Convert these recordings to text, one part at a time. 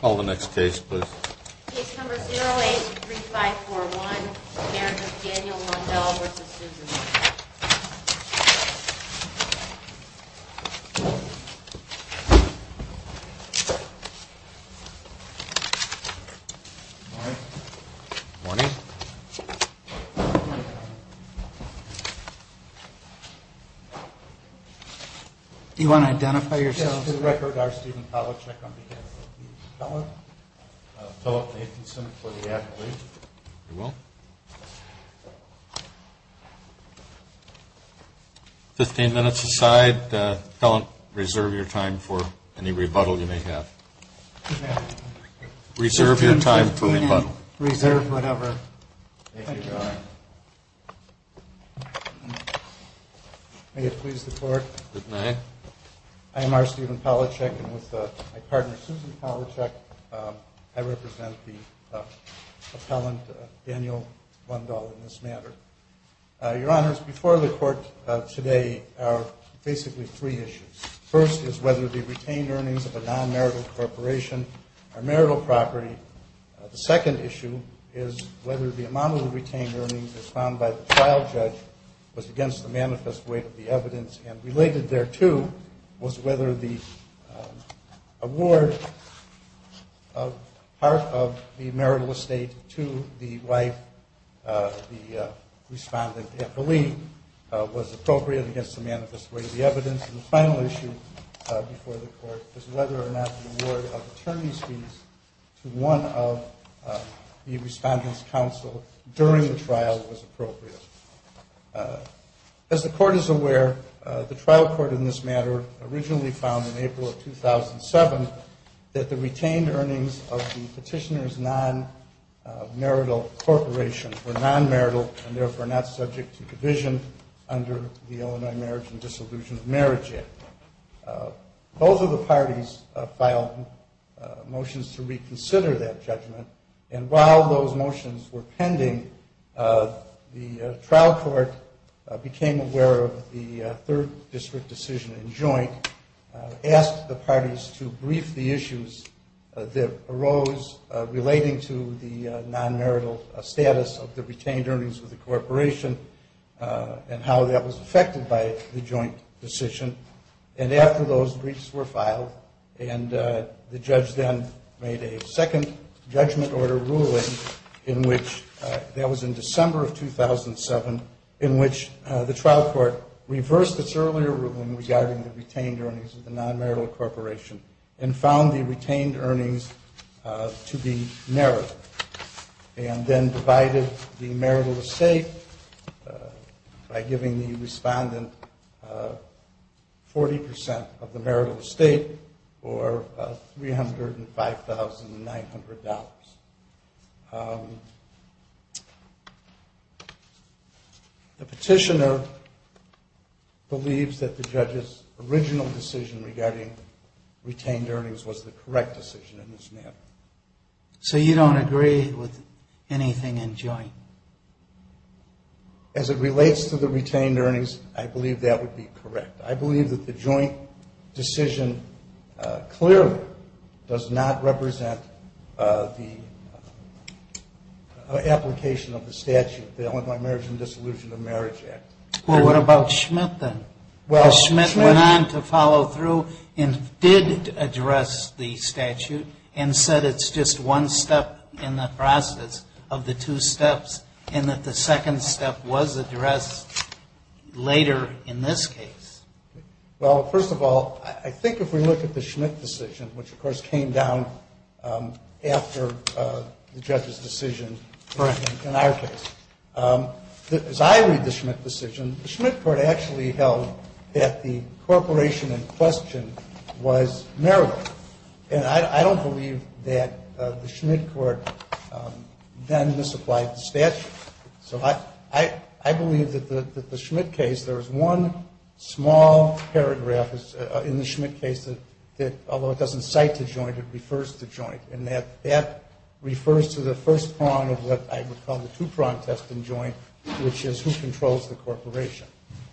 Call the next case please. Case number 083541, Marriage of Daniel Lundahl v. Susan. Morning. Morning. Do you want to identify yourself? On to the record, R. Stephen Palachuk on behalf of the felon. Philip Nathanson for the attorney. You will. Fifteen minutes aside. Felon, reserve your time for any rebuttal you may have. Reserve your time for rebuttal. Reserve whatever. Thank you, Your Honor. May it please the Court. Good night. I am R. Stephen Palachuk and with my partner, Susan Palachuk, I represent the appellant, Daniel Lundahl, in this matter. Your Honors, before the Court today are basically three issues. First is whether the retained earnings of a non-marital corporation are marital property. The second issue is whether the amount of the retained earnings as found by the trial judge was against the manifest weight of the evidence and related thereto was whether the award of part of the marital estate to the wife, the respondent, I believe was appropriate against the manifest weight of the evidence. And the final issue before the Court is whether or not the award of attorney's fees to one of the respondent's counsel during the trial was appropriate. As the Court is aware, the trial court in this matter originally found in April of 2007 that the retained earnings of the petitioner's non-marital corporation were non-marital and therefore not subject to division under the Illinois Marriage and Disillusionment Marriage Act. Both of the parties filed motions to reconsider that judgment, and while those motions were pending, the trial court became aware of the third district decision in joint, asked the parties to brief the issues that arose relating to the non-marital status of the retained earnings of the corporation and how that was affected by the joint decision. And after those briefs were filed, and the judge then made a second judgment order ruling in which that was in December of 2007, in which the trial court reversed its earlier ruling regarding the retained earnings of the non-marital corporation and found the retained earnings to be narrowed and then divided the marital estate by giving the respondent 40% of the marital estate or $305,900. The petitioner believes that the judge's original decision regarding retained earnings was the correct decision in this matter. So you don't agree with anything in joint? As it relates to the retained earnings, I believe that would be correct. I believe that the joint decision clearly does not represent the application of the statute, the Alumni Marriage and Dissolution of Marriage Act. Well, what about Schmidt then? Schmidt went on to follow through and did address the statute and said it's just second step was addressed later in this case. Well, first of all, I think if we look at the Schmidt decision, which of course came down after the judge's decision in our case, as I read the Schmidt decision, the Schmidt court actually held that the corporation in question was marital. And I don't believe that the Schmidt court then misapplied the statute. So I believe that the Schmidt case, there was one small paragraph in the Schmidt case that although it doesn't cite the joint, it refers to joint. And that refers to the first prong of what I would call the two-prong test in joint, which is who controls the corporation.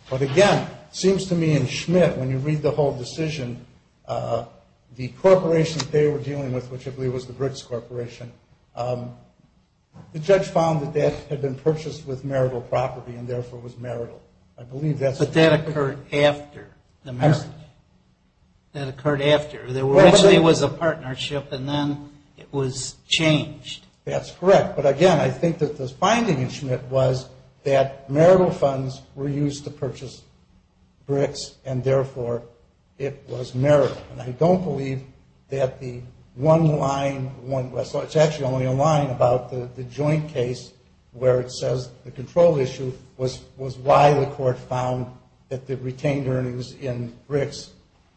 But again, it seems to me in Schmidt, when you read the whole decision, the corporation that they were dealing with, which I believe was the Briggs Corporation, the judge found that that had been purchased with marital property and therefore was marital. I believe that's the case. But that occurred after the marriage. That occurred after. Originally it was a partnership and then it was changed. That's correct. But again, I think that this finding in Schmidt was that marital funds were used to purchase Briggs and therefore it was marital. And I don't believe that the one line, so it's actually only a line about the joint case where it says the control issue was why the court found that the retained earnings in Briggs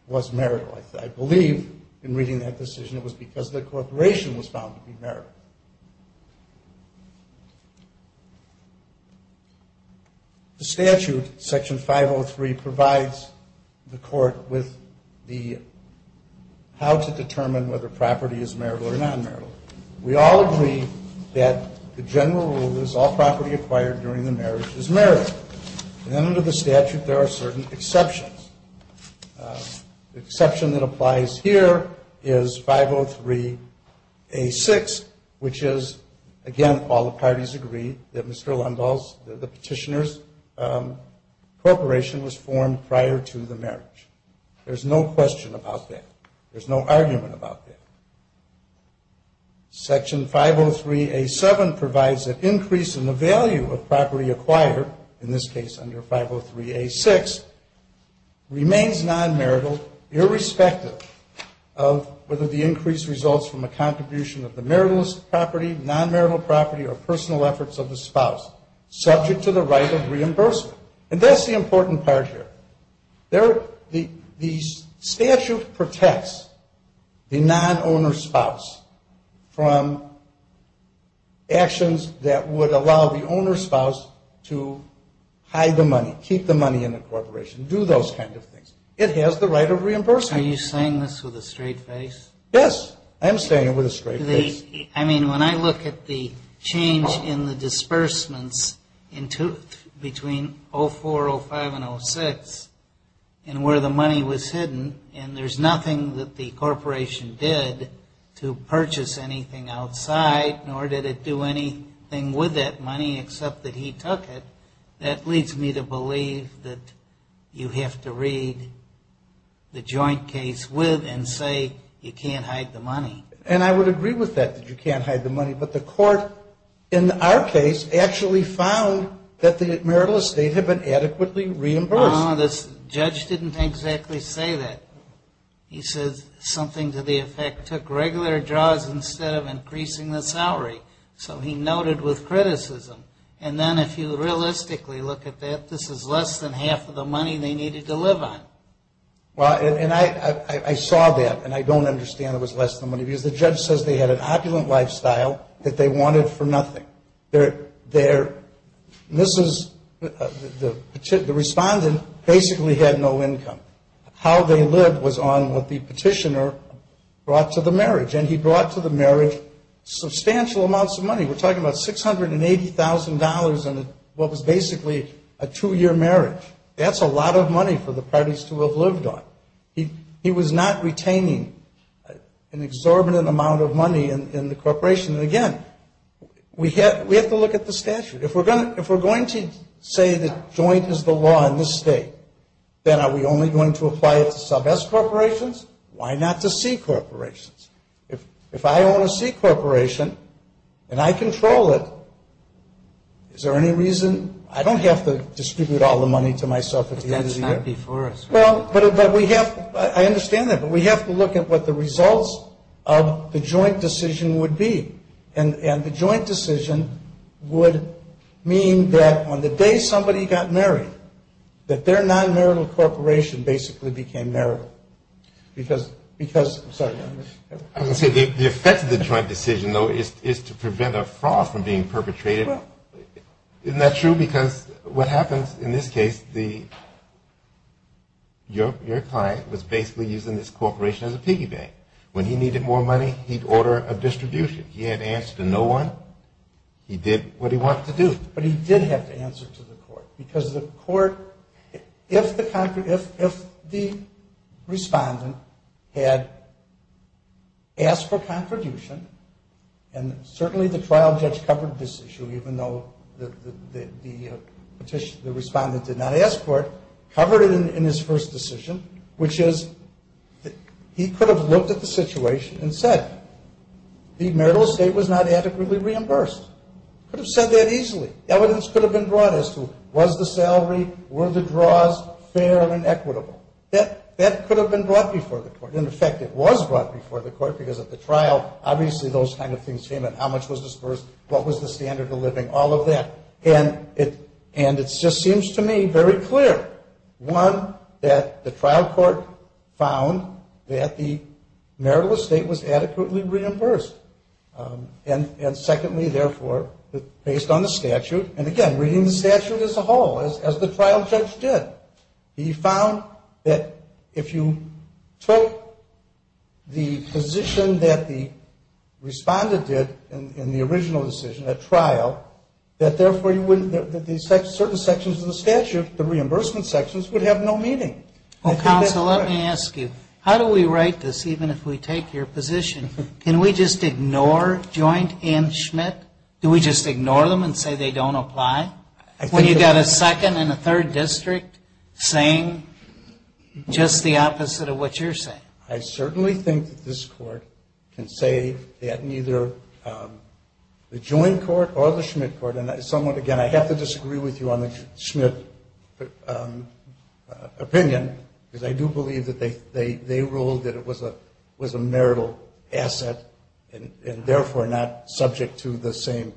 was marital. I believe in reading that decision it was because the corporation was found to be marital. The statute, Section 503, provides the court with how to determine whether property is marital or non-marital. We all agree that the general rule is all property acquired during the marriage is marital. And under the statute there are certain exceptions. The exception that applies here is 503A6, which is again all the parties agree that Mr. Lundahl's, the petitioner's corporation was formed prior to the marriage. There's no question about that. There's no argument about that. Section 503A7 provides an increase in the value of property acquired, in this case under 503A6, remains non-marital irrespective of whether the increase results from a contribution of the marital property, non-marital property, or personal efforts of the spouse subject to the right of reimbursement. And that's the important part here. The statute protects the non-owner spouse from actions that would allow the money, keep the money in the corporation, do those kinds of things. It has the right of reimbursement. Are you saying this with a straight face? Yes. I am saying it with a straight face. I mean, when I look at the change in the disbursements between 04, 05, and 06, and where the money was hidden, and there's nothing that the corporation did to purchase anything outside, nor did it do anything with that money except that he took it, that leads me to believe that you have to read the joint case with, and say you can't hide the money. And I would agree with that, that you can't hide the money. But the court, in our case, actually found that the marital estate had been adequately reimbursed. No, the judge didn't exactly say that. He says something to the effect, instead of increasing the salary. So he noted with criticism. And then if you realistically look at that, this is less than half of the money they needed to live on. Well, and I saw that, and I don't understand it was less than money, because the judge says they had an opulent lifestyle that they wanted for nothing. This is, the respondent basically had no income. How they lived was on what the petitioner brought to the marriage, and he brought to the marriage substantial amounts of money. We're talking about $680,000 in what was basically a two-year marriage. That's a lot of money for the parties to have lived on. He was not retaining an exorbitant amount of money in the corporation. And, again, we have to look at the statute. If we're going to say that joint is the law in this state, then are we only going to apply it to sub-S corporations? Why not to C corporations? If I own a C corporation and I control it, is there any reason? I don't have to distribute all the money to myself at the end of the year. But that's not before us. Well, but we have to, I understand that, but we have to look at what the results of the joint decision would be. And the joint decision would mean that on the day somebody got married, that their non-marital corporation basically became marital. Because, I'm sorry. I was going to say the effect of the joint decision, though, is to prevent a fraud from being perpetrated. Isn't that true? Because what happens in this case, your client was basically using this corporation as a piggy bank. When he needed more money, he'd order a distribution. He had to answer to no one. He did what he wanted to do. But he did have to answer to the court. Because the court, if the respondent had asked for contribution, and certainly the trial judge covered this issue, even though the respondent did not ask for it, covered it in his first decision, which is he could have looked at the situation and said, the marital estate was not adequately reimbursed. He could have said that easily. Evidence could have been brought as to was the salary, were the draws fair and equitable. That could have been brought before the court. In effect, it was brought before the court because at the trial, obviously those kind of things came in. How much was disbursed? What was the standard of living? All of that. And it just seems to me very clear, one, that the trial court found that the marital estate was adequately reimbursed. And secondly, therefore, based on the statute, and again, reading the statute as a whole, as the trial judge did, he found that if you took the position that the respondent did in the original decision at trial, that therefore you wouldn't, that certain sections of the statute, the reimbursement sections, would have no meaning. Well, counsel, let me ask you. How do we write this, even if we take your position? Can we just ignore joint and Schmidt? Do we just ignore them and say they don't apply? When you've got a second and a third district saying just the opposite of what you're saying. I certainly think that this court can say that neither the joint court or the Schmidt court, and somewhat, again, I have to disagree with you on the Schmidt opinion, because I do believe that they ruled that it was a marital asset, and therefore not subject to the same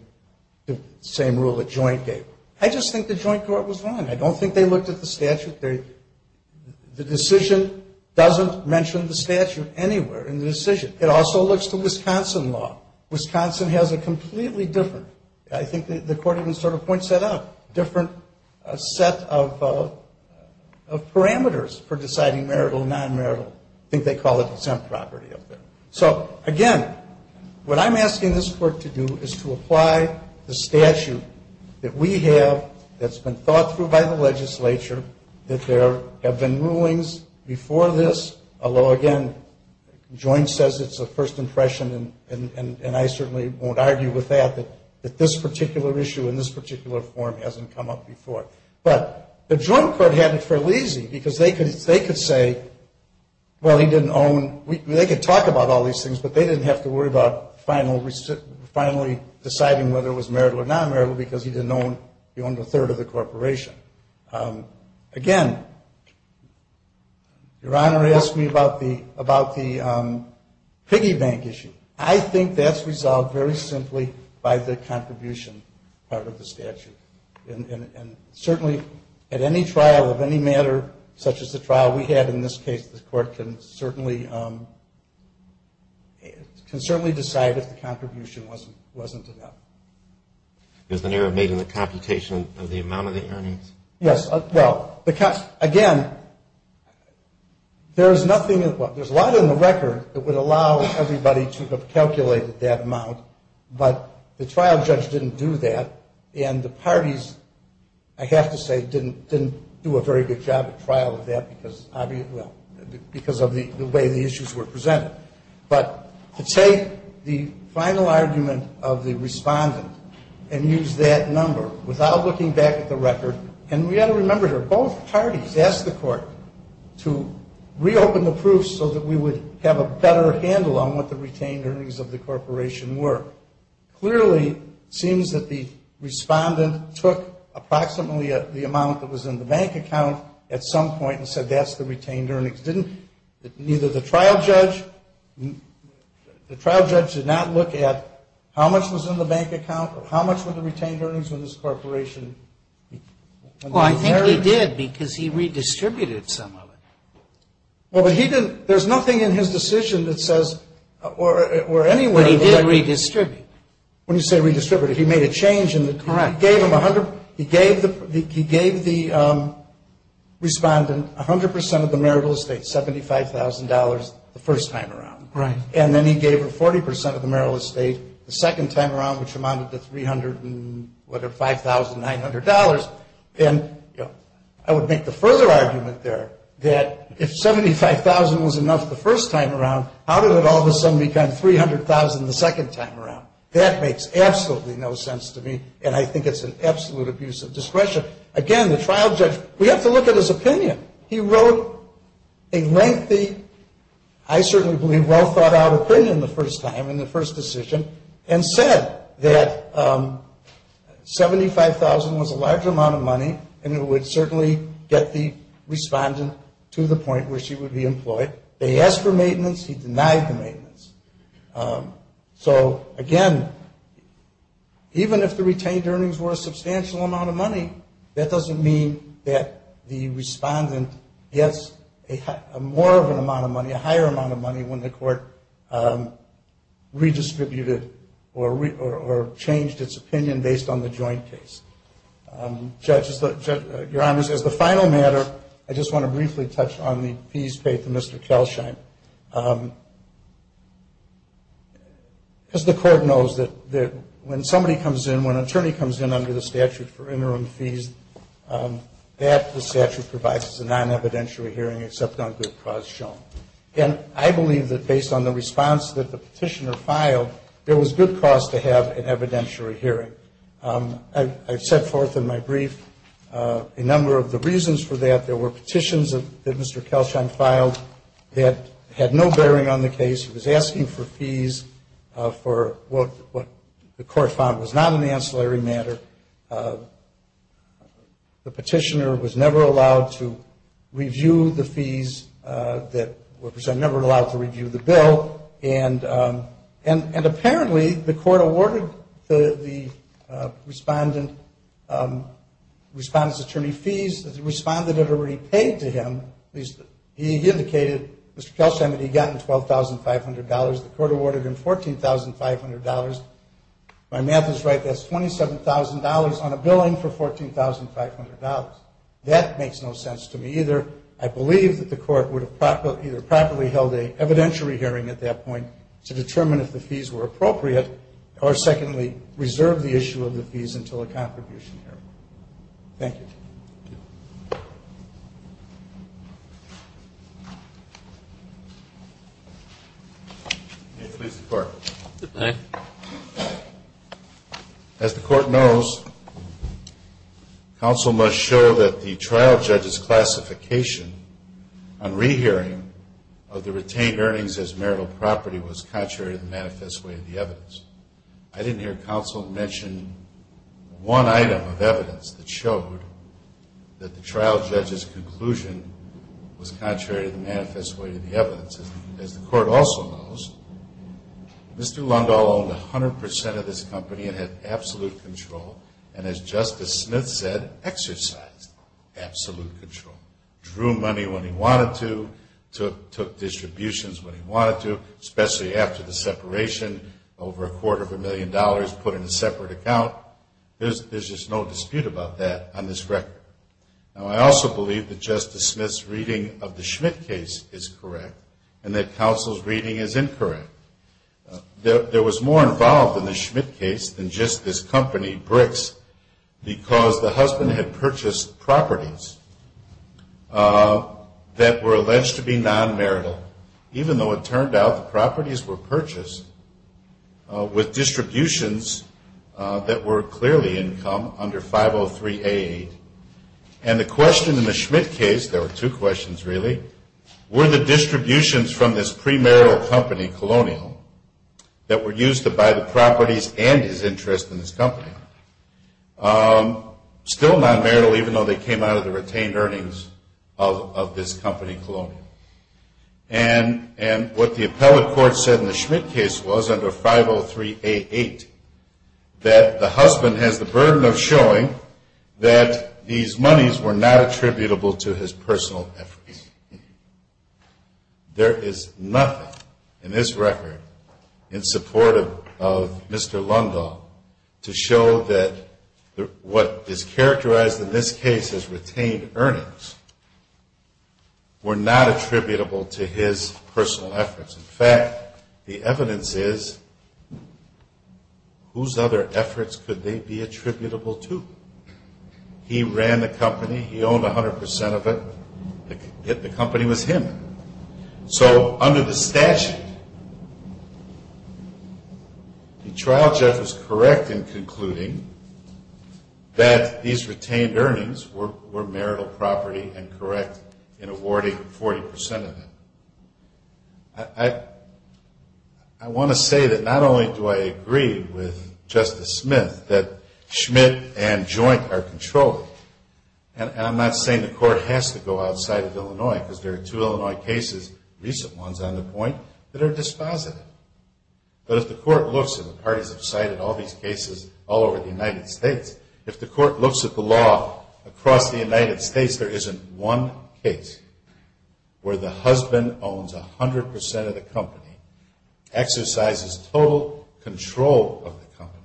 rule that joint gave. I just think the joint court was wrong. I don't think they looked at the statute. The decision doesn't mention the statute anywhere in the decision. It also looks to Wisconsin law. Wisconsin has a completely different, I think the court even sort of points that out, different set of parameters for deciding marital, non-marital. I think they call it exempt property up there. So, again, what I'm asking this court to do is to apply the statute that we have that's been thought through by the legislature, that there have been rulings before this, although, again, joint says it's a first impression, and I certainly won't argue with that, that this particular issue in this particular form hasn't come up before. But the joint court had it fairly easy, because they could say, well, he didn't own, they could talk about all these things, but they didn't have to worry about finally deciding whether it was marital or non-marital, because he didn't own, he owned a third of the corporation. Again, Your Honor asked me about the piggy bank issue. I think that's resolved very simply by the contribution part of the statute. And certainly at any trial of any matter, such as the trial we had in this case, the court can certainly decide if the contribution wasn't enough. Is there an error made in the computation of the amount of the earnings? Yes. Well, again, there is nothing, there's a lot in the record that would allow everybody to have calculated that amount, but the trial judge didn't do that, and the parties, I have to say, didn't do a very good job at trial of that, because of the way the issues were presented. But to take the final argument of the respondent and use that number without looking back at the record, and we've got to remember here, both parties asked the court to reopen the proofs so that we would have a better handle on what the retained earnings of the corporation were. Clearly, it seems that the respondent took approximately the amount that was in the bank account at some point and said that's the retained earnings. Neither the trial judge, the trial judge did not look at how much was in the bank account or how much were the retained earnings of this corporation. Well, I think he did, because he redistributed some of it. Well, but he didn't, there's nothing in his decision that says, or anywhere. But he did redistribute. When you say redistributed, he made a change in the... Correct. He gave the respondent 100% of the marital estate, $75,000 the first time around. Right. And then he gave her 40% of the marital estate the second time around, which amounted to $300,000, whatever, $5,900. And I would make the further argument there that if 75,000 was enough the first time around, how did it all of a sudden become 300,000 the second time around? That makes absolutely no sense to me, and I think it's an absolute abuse of discretion. Again, the trial judge, we have to look at his opinion. He wrote a lengthy, I certainly believe well-thought-out opinion the first time in the first decision and said that 75,000 was a large amount of money and it would certainly get the respondent to the point where she would be employed. They asked for maintenance. He denied the maintenance. So, again, even if the retained earnings were a substantial amount of money, that doesn't mean that the respondent gets more of an amount of money, a higher amount of money when the court redistributed or changed its opinion based on the joint case. Your Honor, as the final matter, I just want to briefly touch on the fees paid to Mr. Kelsheim. Because the court knows that when somebody comes in, when an attorney comes in under the statute for interim fees, that the statute provides is a non-evidentiary hearing except on good cause shown. And I believe that based on the response that the petitioner filed, there was good cause to have an evidentiary hearing. I've set forth in my brief a number of the reasons for that. There were petitions that Mr. Kelsheim filed that had no bearing on the case. He was asking for fees for what the court found was not an ancillary matter. The petitioner was never allowed to review the fees that were presented, never allowed to review the bill. And apparently the court awarded the respondent's attorney fees. The respondent had already paid to him. He indicated, Mr. Kelsheim, that he had gotten $12,500. The court awarded him $14,500. My math is right. That's $27,000 on a billing for $14,500. That makes no sense to me either. I believe that the court would have either properly held an evidentiary hearing at that point to determine if the fees were appropriate or, secondly, reserved the issue of the fees until a contribution hearing. Thank you. Thank you. May it please the Court. Good day. As the Court knows, counsel must show that the trial judge's classification on rehearing of the retained earnings as marital property was contrary to the manifest way of the evidence. I didn't hear counsel mention one item of evidence that showed that the trial judge's conclusion was contrary to the manifest way of the evidence. As the Court also knows, Mr. Lundahl owned 100% of this company and had absolute control and, as Justice Smith said, exercised absolute control. Drew money when he wanted to, took distributions when he wanted to, especially after the separation, over a quarter of a million dollars put in a separate account. There's just no dispute about that on this record. I also believe that Justice Smith's reading of the Schmidt case is correct and that counsel's reading is incorrect. There was more involved in the Schmidt case than just this company, Bricks, because the husband had purchased properties that were alleged to be non-marital, even though it turned out the properties were purchased with distributions that were clearly income under 503A8. And the question in the Schmidt case, there were two questions really, were the distributions from this premarital company, Colonial, that were used to buy the properties and his interest in this company, still non-marital even though they came out of the retained earnings of this company, Colonial. And what the appellate court said in the Schmidt case was under 503A8 that the husband has the burden of showing that these monies were not attributable to his personal efforts. There is nothing in this record in support of Mr. Lundahl to show that what is characterized in this case as retained earnings were not attributable to his personal efforts. In fact, the evidence is whose other efforts could they be attributable to? He ran the company, he owned 100% of it, the company was him. So under the statute, the trial judge was correct in concluding that these retained earnings were marital property and correct in awarding 40% of it. I want to say that not only do I agree with Justice Smith that Schmidt and Joint are controlled, and I'm not saying the court has to go outside of Illinois because there are two Illinois cases, recent ones on the point, that are dispositive. But if the court looks, and the parties have cited all these cases all over the United States, if the court looks at the law across the United States, there isn't one case where the husband owns 100% of the company, exercises total control of the company,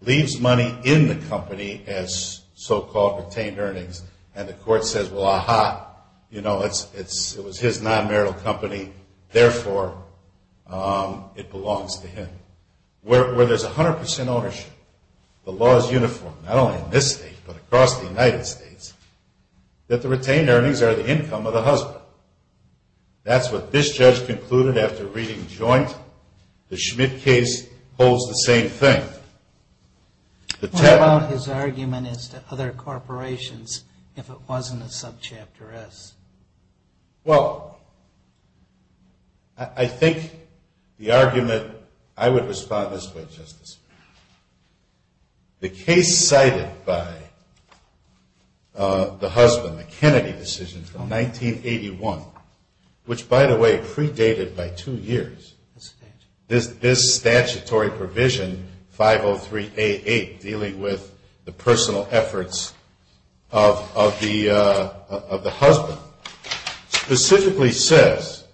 leaves money in the company as so-called retained earnings, and the court says, well, aha, it was his non-marital company, therefore it belongs to him. Where there's 100% ownership, the law is uniform, not only in this state, but across the United States, that the retained earnings are the income of the husband. That's what this judge concluded after reading Joint. But the Schmidt case holds the same thing. What about his argument as to other corporations if it wasn't a subchapter S? Well, I think the argument, I would respond this way, Justice. The case cited by the husband, the Kennedy decision from 1981, which, by the way, predated by two years, this statutory provision, 503A8, dealing with the personal efforts of the husband, specifically says,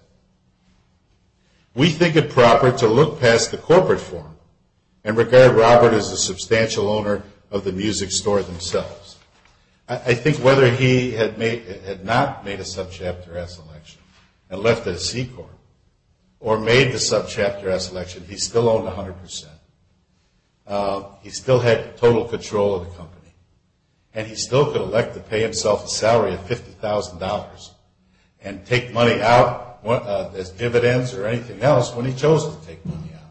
we think it proper to look past the corporate form and regard Robert as a substantial owner of the music store themselves. I think whether he had not made a subchapter S election and left at a C court, or made the subchapter S election, he still owned 100%. He still had total control of the company. And he still could elect to pay himself a salary of $50,000 and take money out as dividends or anything else when he chose to take money out.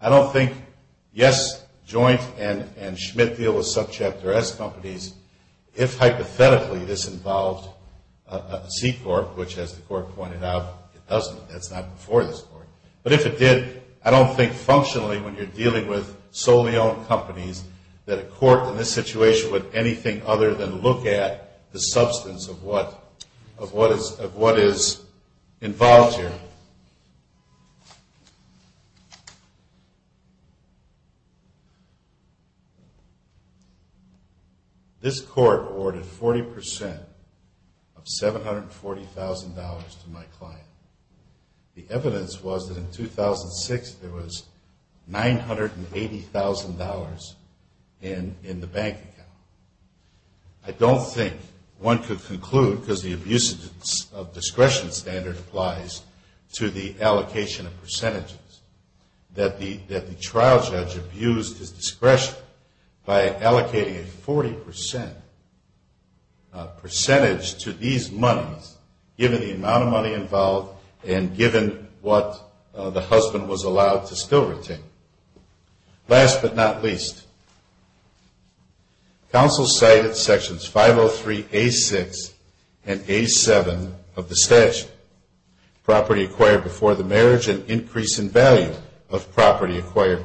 I don't think, yes, Joint and Schmidt deal with subchapter S companies, if hypothetically this involved a C court, which as the court pointed out, it doesn't. That's not before this court. But if it did, I don't think functionally when you're dealing with solely owned companies that a court in this situation would anything other than look at the substance of what is involved here. This court awarded 40% of $740,000 to my client. The evidence was that in 2006 there was $980,000 in the bank account. I don't think one could conclude, because the abuse of discretion standard applies to the allocation of percentages, that the trial judge abused his discretion by allocating a 40% percentage to these monies, given the amount of money involved and given what the husband was allowed to still retain. Last but not least, counsel cited sections 503A6 and A7 of the statute, property acquired before the marriage and increase in value of property acquired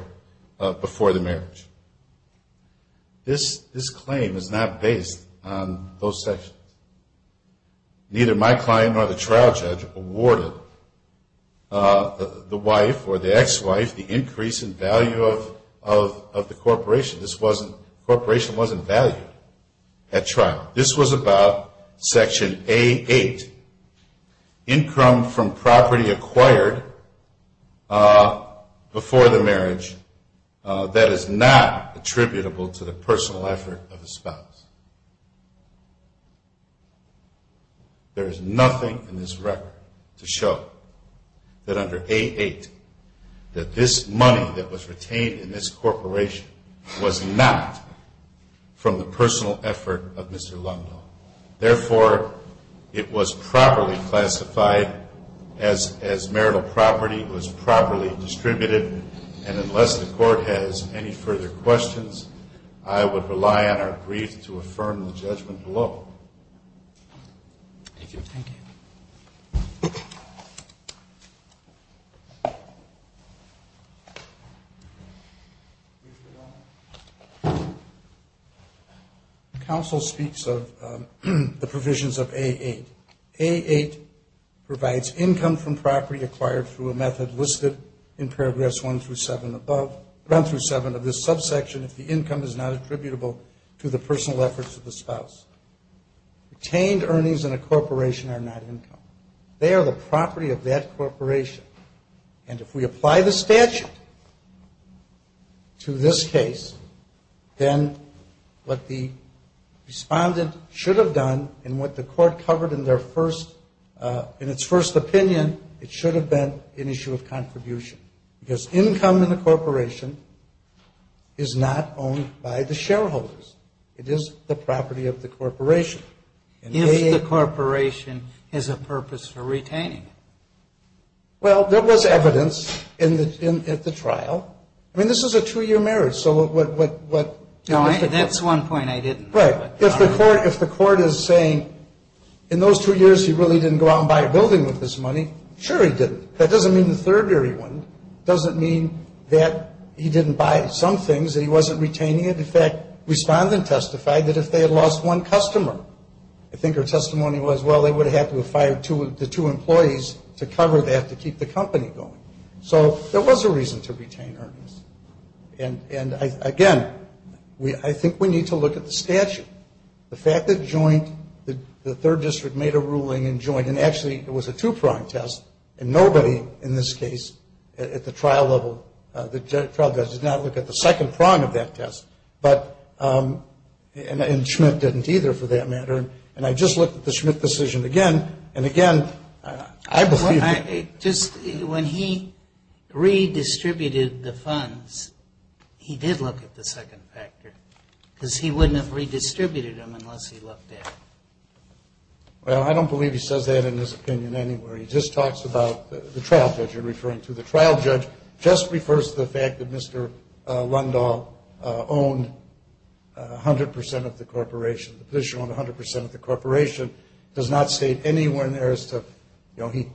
before the marriage. This claim is not based on those sections. Neither my client nor the trial judge awarded the wife or the ex-wife the increase in value of the corporation. The corporation wasn't valued at trial. This was about section A8, income from property acquired before the marriage. That is not attributable to the personal effort of the spouse. There is nothing in this record to show that under A8, that this money that was retained in this corporation was not from the personal effort of Mr. Lungdo. Therefore, it was properly classified as marital property, it was properly distributed, and unless the court has any further questions, I would rely on our brief to affirm the judgment below. Thank you. Thank you. Counsel speaks of the provisions of A8. A8 provides income from property acquired through a method listed in Paragraphs 1 through 7 above, 1 through 7 of this subsection if the income is not attributable to the personal efforts of the spouse. Retained earnings in a corporation are not income. They are the property of that corporation. And if we apply the statute to this case, then what the respondent should have done and what the court covered in their first, in its first opinion, it should have been an issue of contribution. Because income in the corporation is not owned by the shareholders. It is the property of the corporation. If the corporation has a purpose for retaining it. Well, there was evidence at the trial. I mean, this is a two-year marriage. So what? That's one point I didn't. Right. If the court is saying in those two years he really didn't go out and buy a building with this money, sure he didn't. That doesn't mean the third year he wouldn't. It doesn't mean that he didn't buy some things, that he wasn't retaining it. In fact, respondent testified that if they had lost one customer, I think her testimony was, well, they would have had to have fired the two employees to cover that to keep the company going. So there was a reason to retain earnings. And, again, I think we need to look at the statute. The fact that joint, the third district made a ruling in joint, and actually it was a two-prong test, and nobody in this case at the trial level, the trial judge, did not look at the second prong of that test. But, and Schmidt didn't either for that matter. And I just looked at the Schmidt decision again. And, again, I believe that. Just when he redistributed the funds, he did look at the second factor, because he wouldn't have redistributed them unless he looked at it. Well, I don't believe he says that in his opinion anywhere. He just talks about the trial judge you're referring to. The trial judge just refers to the fact that Mr. Lundahl owned 100 percent of the corporation. The position on 100 percent of the corporation does not state anywhere in there as to, you know, he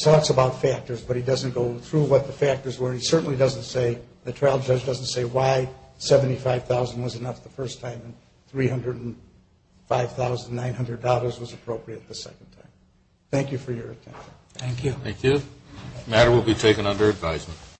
talks about factors, but he doesn't go through what the factors were. He certainly doesn't say, the trial judge doesn't say why 75,000 was enough the first time and $305,900 was appropriate the second time. Thank you for your attention. Thank you. Thank you. The matter will be taken under advisement.